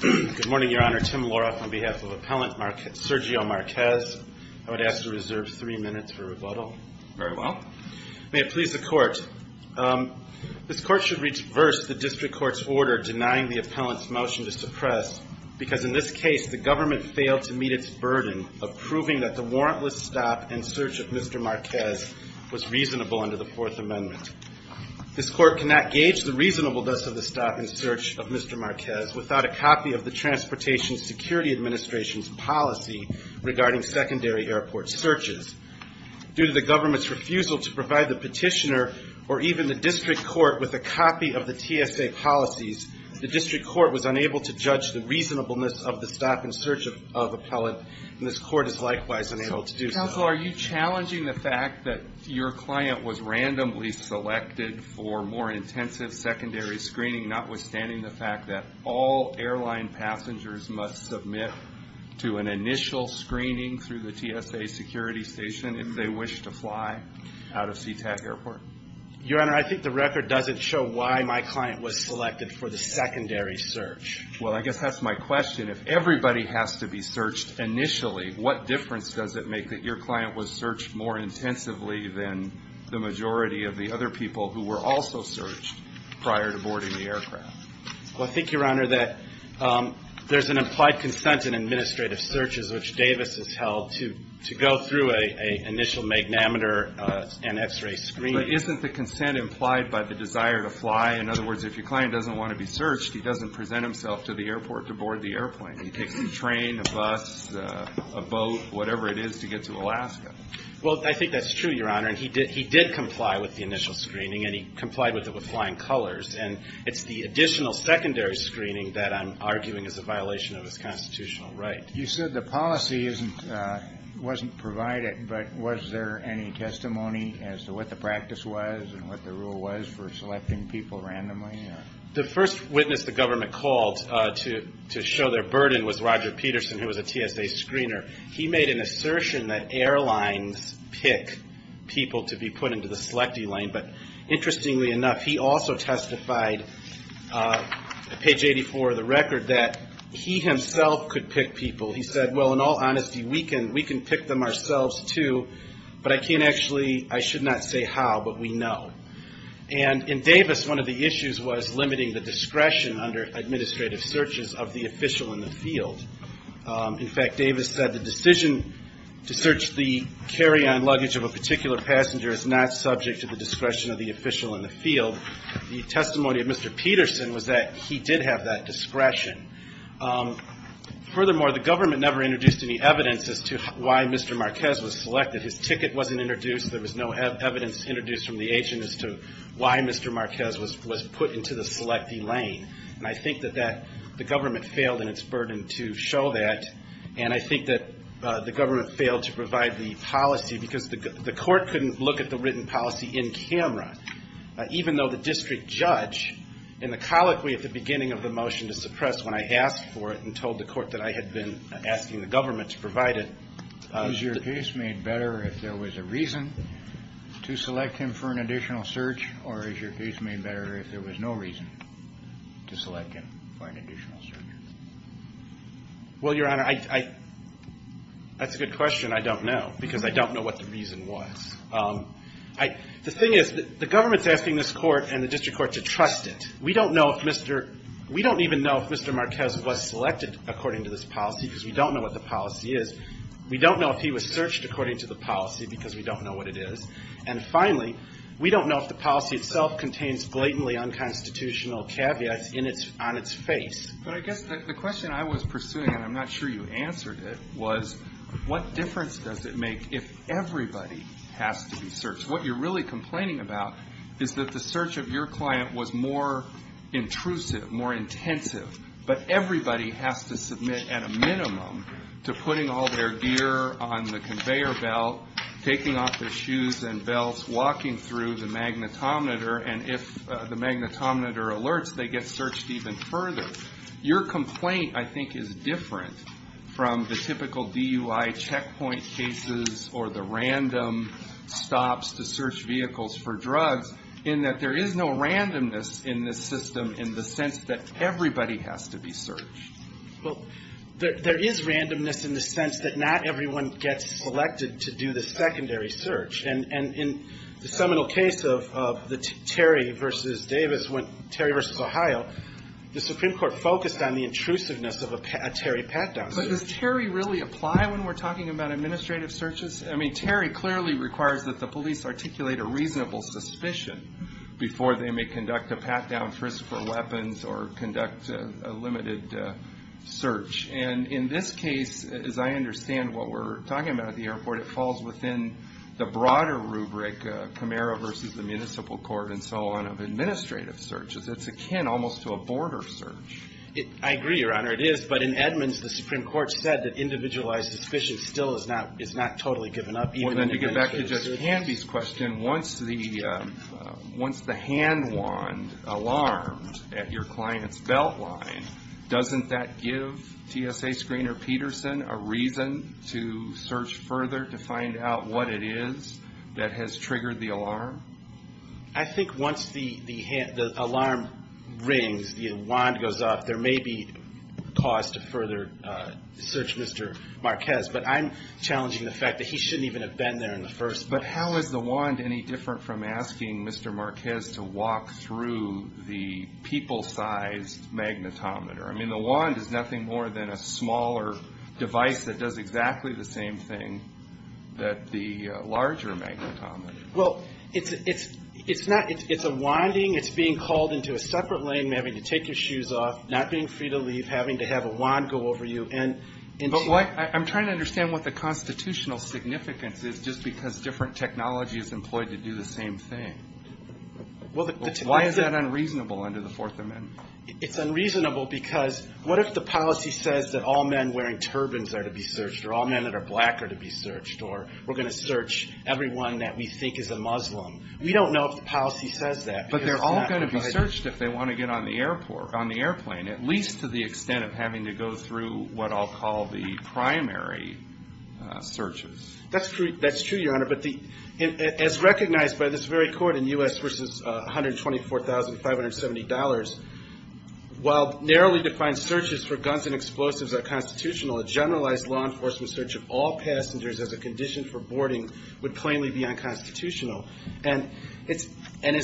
Good morning, Your Honor. Tim Loroff on behalf of Appellant Sergio Marquez. I would ask to reserve three minutes for rebuttal. Very well. May it please the Court. This Court should reverse the District Court's order denying the Appellant's motion to suppress because in this case the government failed to meet its burden of proving that the warrantless stop and search of Mr. Marquez was reasonable under the Marquez without a copy of the Transportation Security Administration's policy regarding secondary airport searches. Due to the government's refusal to provide the petitioner or even the District Court with a copy of the TSA policies, the District Court was unable to judge the reasonableness of the stop and search of Appellant and this Court is likewise unable to do so. Mr. Counsel, are you challenging the fact that your client was randomly selected for more intensive secondary screening notwithstanding the fact that all airline passengers must submit to an initial screening through the TSA security station if they wish to fly out of SeaTac Airport? Your Honor, I think the record doesn't show why my client was selected for the secondary search. Well, I guess that's my question. If everybody has to be searched initially, what difference does it make that your client was searched more intensively than the majority of the other people who were also searched prior to boarding the aircraft? Well, I think, Your Honor, that there's an implied consent in administrative searches which Davis has held to go through an initial magnameter and x-ray screening. But isn't the consent implied by the desire to fly? In other words, if your client doesn't want to be searched, he doesn't present himself to the airport to board the airplane. He takes the train, a bus, a boat, whatever it is to get to Alaska. Well, I think that's true, Your Honor, and he did comply with the initial screening and he complied with it with flying colors. And it's the additional secondary screening that I'm arguing is a violation of his constitutional right. You said the policy wasn't provided, but was there any testimony as to what the practice was and what the rule was for selecting people randomly? The first witness the government called to show their burden was Roger Peterson, who was a TSA screener. He made an assertion that airlines pick people to be put into the selectee lane. But interestingly enough, he also testified at page 84 of the record that he himself could pick people. He said, well, in all honesty, we can pick them ourselves, too, but I can't actually – I should not say how, but we know. And in Davis, one of the issues was limiting the discretion under administrative searches of the official in the field. In fact, Davis said the decision to search the carry-on luggage of a particular passenger is not subject to the discretion of the official in the field. The testimony of Mr. Peterson was that he did have that discretion. Furthermore, the government never introduced any evidence as to why Mr. Marquez was selected. His ticket wasn't introduced. There was no evidence introduced from the agent as to why Mr. Marquez was put into the selectee lane. And I think that the government failed in its burden to show that. And I think that the government failed to provide the policy because the court couldn't look at the written policy in camera, even though the district judge in the colloquy at the beginning of the motion to suppress when I asked for it and told the court that I had been asking the government to provide it. Is your case made better if there was a reason to select him for an additional search, or is your case made better if there was no reason to select him for an additional search? Well, Your Honor, I – that's a good question. I don't know because I don't know what the reason was. The thing is the government's asking this court and the district court to trust it. We don't know if Mr. – we don't even know if Mr. Marquez was selected according to this policy because we don't know what the policy is. We don't know if he was searched according to the policy because we don't know what it is. And finally, we don't know if the policy itself contains blatantly unconstitutional caveats on its face. But I guess the question I was pursuing, and I'm not sure you answered it, was what difference does it make if everybody has to be searched? What you're really complaining about is that the search of your client was more intrusive, more intensive, but everybody has to submit at a minimum to putting all their gear on the conveyor belt, taking off their shoes and belts, walking through the magnetometer, and if the magnetometer alerts, they get searched even further. Your complaint, I think, is different from the typical DUI checkpoint cases or the random stops to search vehicles for drugs in that there is no randomness in this system in the sense that everybody has to be searched. Well, there is randomness in the sense that not everyone gets selected to do the secondary search. And in the seminal case of the Terry v. Davis, Terry v. Ohio, the Supreme Court focused on the intrusiveness of a Terry pat-down search. But does Terry really apply when we're talking about administrative searches? I mean, Terry clearly requires that the police articulate a reasonable suspicion before they may conduct a pat-down frisk for weapons or conduct a limited search. And in this case, as I understand what we're talking about at the airport, it falls within the broader rubric, Camaro v. the Municipal Court and so on, of administrative searches. It's akin almost to a border search. I agree, Your Honor, it is. But in Edmonds, the Supreme Court said that individualized suspicion still is not totally given up. Well, then to get back to Justice Candy's question, once the hand wand alarms at your client's belt line, doesn't that give TSA screener Peterson a reason to search further to find out what it is that has triggered the alarm? I think once the alarm rings, the wand goes off, there may be cause to further search Mr. Marquez. But I'm challenging the fact that he shouldn't even have been there in the first place. But how is the wand any different from asking Mr. Marquez to walk through the people-sized magnetometer? I mean, the wand is nothing more than a smaller device that does exactly the same thing that the larger magnetometer. Well, it's a winding. It's being called into a separate lane, having to take your shoes off, not being free to leave, having to have a wand go over you. But I'm trying to understand what the constitutional significance is just because different technology is employed to do the same thing. Why is that unreasonable under the Fourth Amendment? It's unreasonable because what if the policy says that all men wearing turbans are to be searched, or all men that are black are to be searched, or we're going to search everyone that we think is a Muslim? We don't know if the policy says that. But they're all going to be searched if they want to get on the airplane, at least to the extent of having to go through what I'll call the primary searches. That's true, Your Honor. But as recognized by this very court in U.S. v. $124,570, while narrowly defined searches for guns and explosives are constitutional, a generalized law enforcement search of all passengers as a condition for boarding would plainly be unconstitutional. And as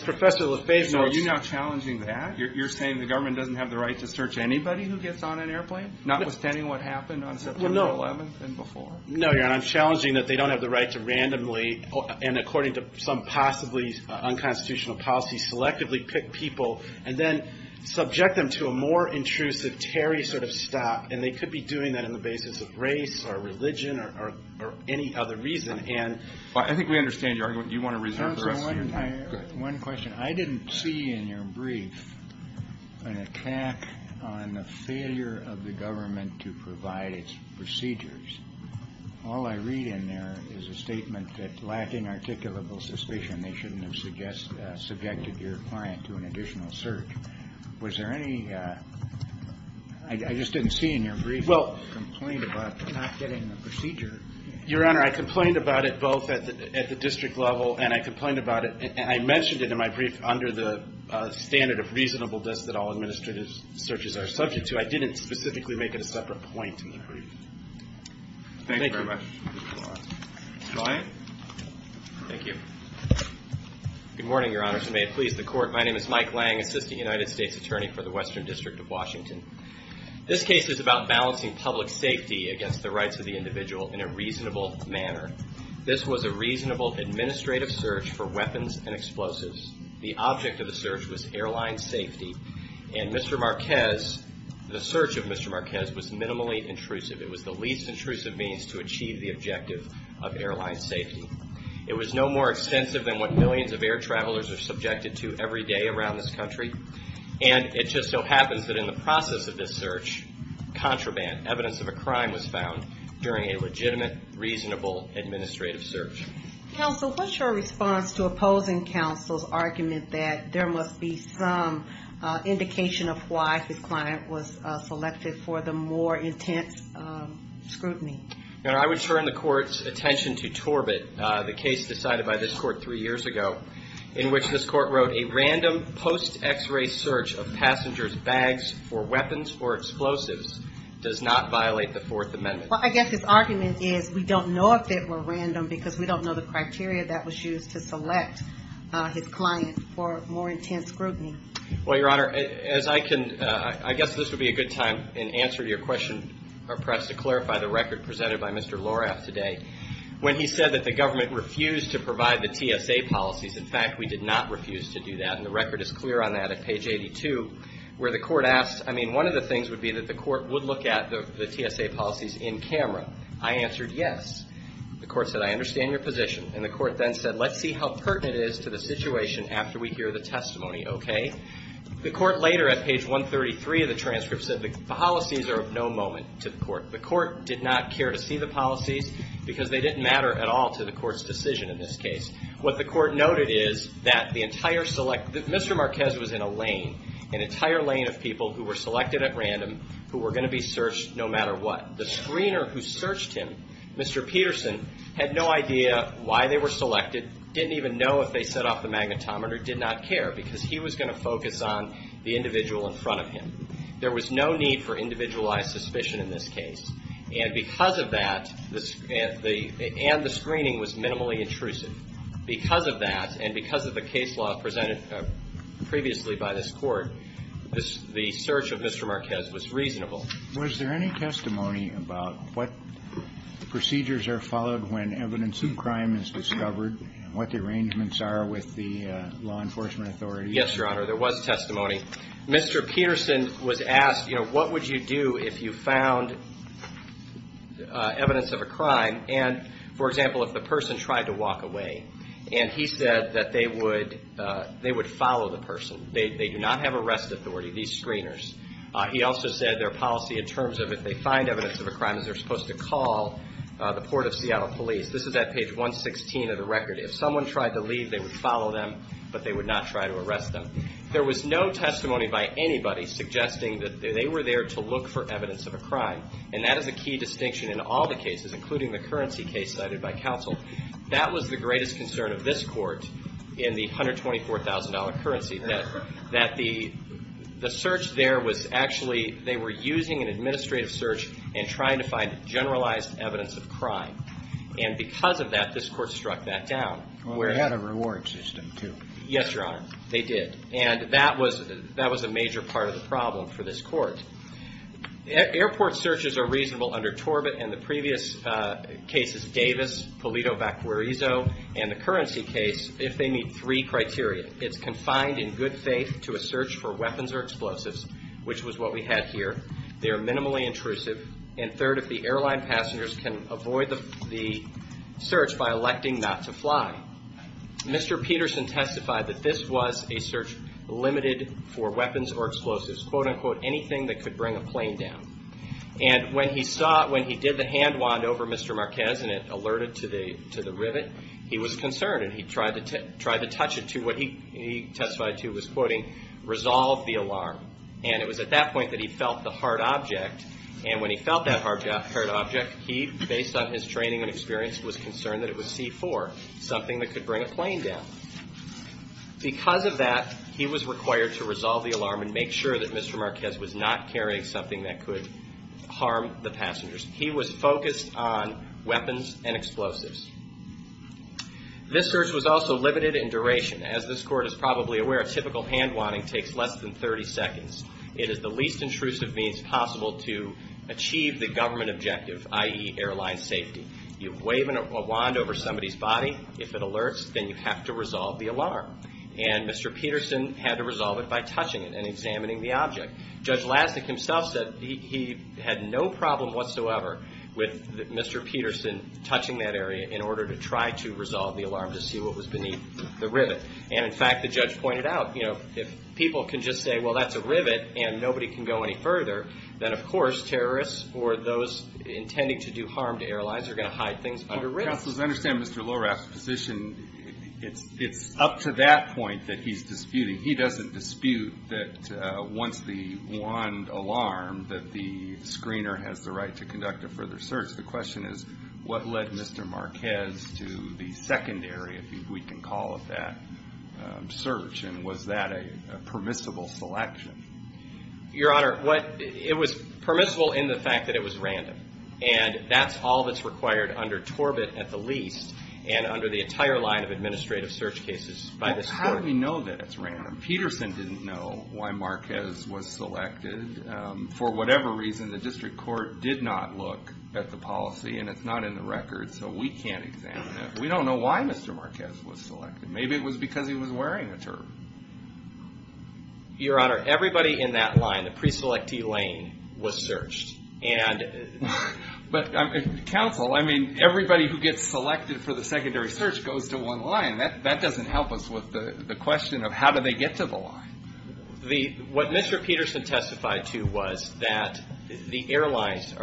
Professor LaFave notes – Are you now challenging that? You're saying the government doesn't have the right to search anybody who gets on an airplane, notwithstanding what happened on September 11th and before? No, Your Honor. I'm challenging that they don't have the right to randomly, and according to some possibly unconstitutional policy, selectively pick people and then subject them to a more intrusive Terry sort of stop. And they could be doing that on the basis of race or religion or any other reason. I think we understand your argument. Do you want to reserve the rest of your time? One question. I didn't see in your brief an attack on the failure of the government to provide its procedures. All I read in there is a statement that lacking articulable suspicion, they shouldn't have subjected your client to an additional search. Was there any – I just didn't see in your brief a complaint about not getting the procedure. Your Honor, I complained about it both at the district level and I complained about it – I mentioned it in my brief under the standard of reasonable that all administrative searches are subject to. I didn't specifically make it a separate point in the brief. Thank you very much. Ryan. Thank you. Good morning, Your Honors. May it please the Court. My name is Mike Lang, Assistant United States Attorney for the Western District of Washington. This case is about balancing public safety against the rights of the individual in a reasonable manner. This was a reasonable administrative search for weapons and explosives. The object of the search was airline safety. And Mr. Marquez – the search of Mr. Marquez was minimally intrusive. It was the least intrusive means to achieve the objective of airline safety. It was no more extensive than what millions of air travelers are subjected to every day around this country. And it just so happens that in the process of this search, contraband, evidence of a crime, was found during a legitimate, reasonable administrative search. Counsel, what's your response to opposing counsel's argument that there must be some indication of why the client was selected for the more intense scrutiny? Your Honor, I would turn the Court's attention to Torbett, the case decided by this Court three years ago, in which this Court wrote, a random post-X-ray search of passengers' bags for weapons or explosives does not violate the Fourth Amendment. Well, I guess his argument is, we don't know if it were random, because we don't know the criteria that was used to select his client for more intense scrutiny. Well, Your Honor, as I can – I guess this would be a good time in answer to your question, or perhaps to clarify the record presented by Mr. Loraff today. When he said that the government refused to provide the TSA policies, in fact, we did not refuse to do that. And the record is clear on that at page 82, where the Court asked – I mean, one of the things would be that the Court would look at the TSA policies in camera. I answered yes. The Court said, I understand your position. And the Court then said, let's see how pertinent it is to the situation after we hear the testimony, okay? The Court later, at page 133 of the transcript, said the policies are of no moment to the Court. The Court did not care to see the policies, because they didn't matter at all to the Court's decision in this case. What the Court noted is that the entire – Mr. Marquez was in a lane, an entire lane of people who were selected at random, who were going to be searched no matter what. The screener who searched him, Mr. Peterson, had no idea why they were selected, didn't even know if they set off the magnetometer, did not care, because he was going to focus on the individual in front of him. There was no need for individualized suspicion in this case. And because of that, the – and the screening was minimally intrusive. Because of that and because of the case law presented previously by this Court, this – the search of Mr. Marquez was reasonable. Was there any testimony about what procedures are followed when evidence of crime is discovered and what the arrangements are with the law enforcement authorities? Yes, Your Honor, there was testimony. Mr. Peterson was asked, you know, what would you do if you found evidence of a crime and, for example, if the person tried to walk away. And he said that they would follow the person. They do not have arrest authority, these screeners. He also said their policy in terms of if they find evidence of a crime is they're supposed to call the Port of Seattle Police. This is at page 116 of the record. If someone tried to leave, they would follow them, but they would not try to arrest them. There was no testimony by anybody suggesting that they were there to look for evidence of a crime. And that is a key distinction in all the cases, including the currency case cited by counsel. That was the greatest concern of this Court in the $124,000 currency, that the search there was actually – they were using an administrative search and trying to find generalized evidence of crime. And because of that, this Court struck that down. Well, they had a reward system, too. Yes, Your Honor, they did. And that was a major part of the problem for this Court. Airport searches are reasonable under Torbett and the previous cases, Davis, Polito-Vacquerizo, and the currency case if they meet three criteria. It's confined in good faith to a search for weapons or explosives, which was what we had here. They are minimally intrusive. And third, if the airline passengers can avoid the search by electing not to fly. Mr. Peterson testified that this was a search limited for weapons or explosives, quote-unquote, anything that could bring a plane down. And when he saw it, when he did the hand wand over Mr. Marquez and it alerted to the rivet, he was concerned. And he tried to touch it to what he testified to was, quoting, resolve the alarm. And it was at that point that he felt the hard object. And when he felt that hard object, he, based on his training and experience, was concerned that it was C-4, something that could bring a plane down. Because of that, he was required to resolve the alarm and make sure that Mr. Marquez was not carrying something that could harm the passengers. He was focused on weapons and explosives. This search was also limited in duration. As this Court is probably aware, a typical hand wanding takes less than 30 seconds. It is the least intrusive means possible to achieve the government objective, i.e., airline safety. You wave a wand over somebody's body, if it alerts, then you have to resolve the alarm. And Mr. Peterson had to resolve it by touching it and examining the object. Judge Lasnik himself said he had no problem whatsoever with Mr. Peterson touching that area in order to try to resolve the alarm to see what was beneath the rivet. And, in fact, the judge pointed out, you know, if people can just say, well, that's a rivet and nobody can go any further, then, of course, terrorists or those intending to do harm to airlines are going to hide things under rivets. Counselors, I understand Mr. Lohraff's position. It's up to that point that he's disputing. He doesn't dispute that once the wand alarmed that the screener has the right to conduct a further search. The question is, what led Mr. Marquez to the secondary, if we can call it that, search? And was that a permissible selection? Your Honor, it was permissible in the fact that it was random. And that's all that's required under Torbett, at the least, and under the entire line of administrative search cases by this Court. Well, how do we know that it's random? Peterson didn't know why Marquez was selected. For whatever reason, the district court did not look at the policy, and it's not in the record, so we can't examine it. We don't know why Mr. Marquez was selected. Maybe it was because he was wearing a turban. Your Honor, everybody in that line, the pre-selectee lane, was searched. But, Counsel, I mean, everybody who gets selected for the secondary search goes to one line. That doesn't help us with the question of how do they get to the line. What Mr. Peterson testified to was that the airlines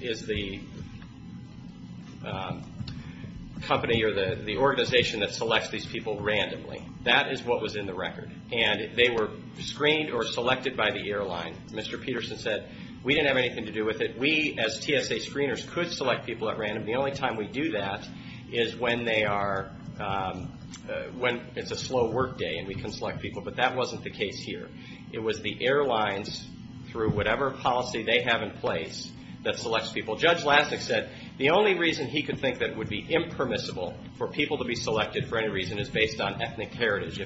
is the company or the organization that selects these people randomly. That is what was in the record, and they were screened or selected by the airline. Mr. Peterson said, we didn't have anything to do with it. We, as TSA screeners, could select people at random. The only time we do that is when they are, when it's a slow work day and we can select people. But that wasn't the case here. It was the airlines, through whatever policy they have in place, that selects people. Well, Judge Lasnik said the only reason he could think that it would be impermissible for people to be selected for any reason is based on ethnic heritage.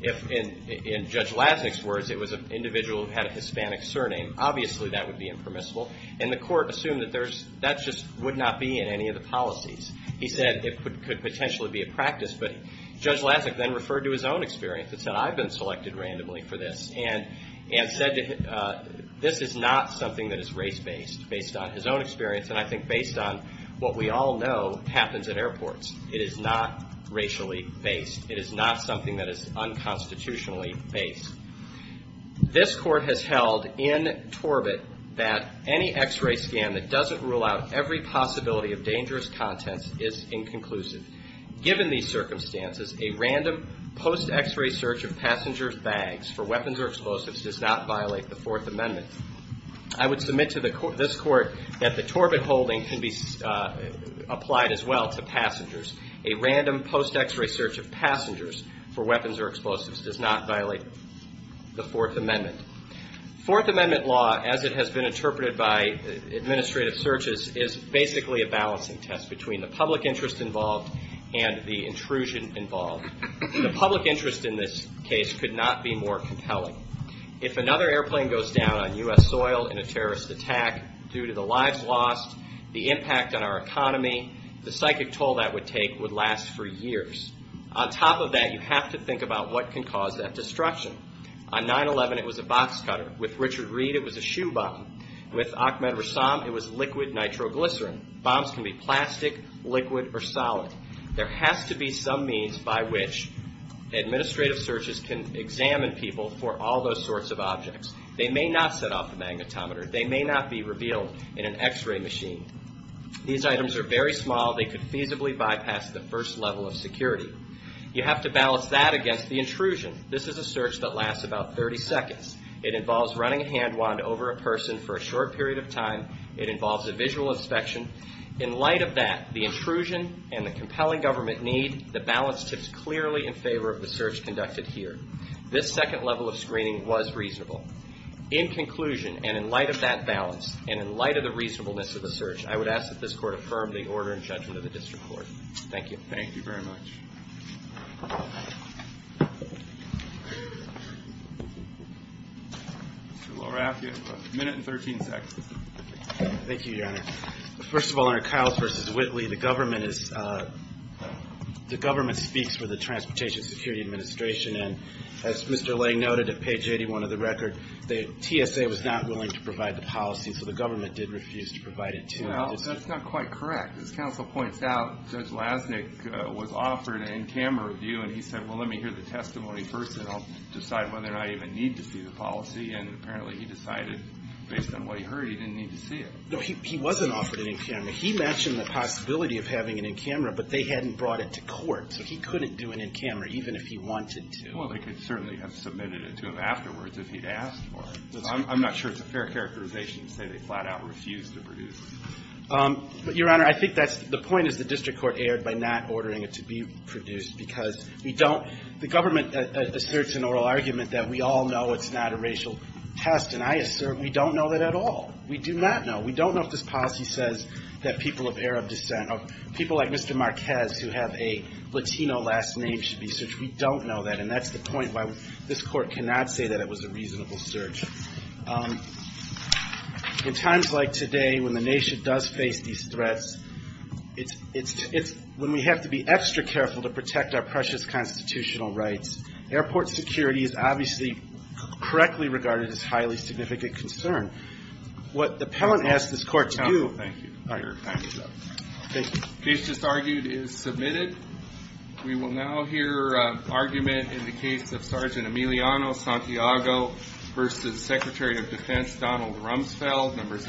If, in Judge Lasnik's words, it was an individual who had a Hispanic surname, obviously that would be impermissible. And the court assumed that there's, that just would not be in any of the policies. He said it could potentially be a practice. But Judge Lasnik then referred to his own experience and said, I've been selected randomly for this. And said, this is not something that is race-based, based on his own experience. And I think based on what we all know happens at airports. It is not racially based. It is not something that is unconstitutionally based. This court has held in Torbit that any X-ray scan that doesn't rule out every possibility of dangerous contents is inconclusive. Given these circumstances, a random post-X-ray search of passengers' bags for weapons or explosives does not violate the Fourth Amendment. I would submit to this court that the Torbit holding can be applied as well to passengers. A random post-X-ray search of passengers for weapons or explosives does not violate the Fourth Amendment. Fourth Amendment law, as it has been interpreted by administrative searches, is basically a balancing test between the public interest involved and the intrusion involved. The public interest in this case could not be more compelling. If another airplane goes down on U.S. soil in a terrorist attack due to the lives lost, the impact on our economy, the psychic toll that would take would last for years. On top of that, you have to think about what can cause that destruction. On 9-11, it was a box cutter. With Richard Reid, it was a shoe bomb. With Ahmed Rassam, it was liquid nitroglycerin. Bombs can be plastic, liquid, or solid. There has to be some means by which administrative searches can examine people for all those sorts of objects. They may not set off the magnetometer. They may not be revealed in an X-ray machine. These items are very small. They could feasibly bypass the first level of security. You have to balance that against the intrusion. This is a search that lasts about 30 seconds. It involves running a hand wand over a person for a short period of time. It involves a visual inspection. In light of that, the intrusion and the compelling government need, the balance tips clearly in favor of the search conducted here. This second level of screening was reasonable. In conclusion, and in light of that balance, and in light of the reasonableness of the search, I would ask that this Court affirm the order and judgment of the District Court. Thank you. Thank you very much. Mr. Loraff, you have a minute and 13 seconds. Thank you, Your Honor. First of all, under Kyles v. Whitley, the government speaks for the Transportation Security Administration. And as Mr. Lang noted at page 81 of the record, the TSA was not willing to provide the policy, so the government did refuse to provide it to them. Well, that's not quite correct. As counsel points out, Judge Lasnik was offered an in-camera review, and he said, well, let me hear the testimony first, and I'll decide whether or not I even need to see the policy. And apparently he decided, based on what he heard, he didn't need to see it. No, he wasn't offered an in-camera. He mentioned the possibility of having an in-camera, but they hadn't brought it to court. So he couldn't do an in-camera, even if he wanted to. Well, they could certainly have submitted it to him afterwards if he'd asked for it. I'm not sure it's a fair characterization to say they flat-out refused to produce it. But, Your Honor, I think that's the point is the district court erred by not ordering it to be produced because we don't – the government asserts an oral argument that we all know it's not a racial test, and I assert we don't know that at all. We do not know. We don't know if this policy says that people of Arab descent, or people like Mr. Marquez who have a Latino last name should be searched. We don't know that, and that's the point why this Court cannot say that it was a reasonable search. In times like today, when the nation does face these threats, it's when we have to be extra careful to protect our precious constitutional rights. Airport security is obviously correctly regarded as a highly significant concern. What the appellant asked this Court to do – Counsel, thank you. Your time is up. Thank you. The case just argued is submitted. We will now hear argument in the case of Sergeant Emiliano Santiago versus Secretary of Defense Donald Rumsfeld.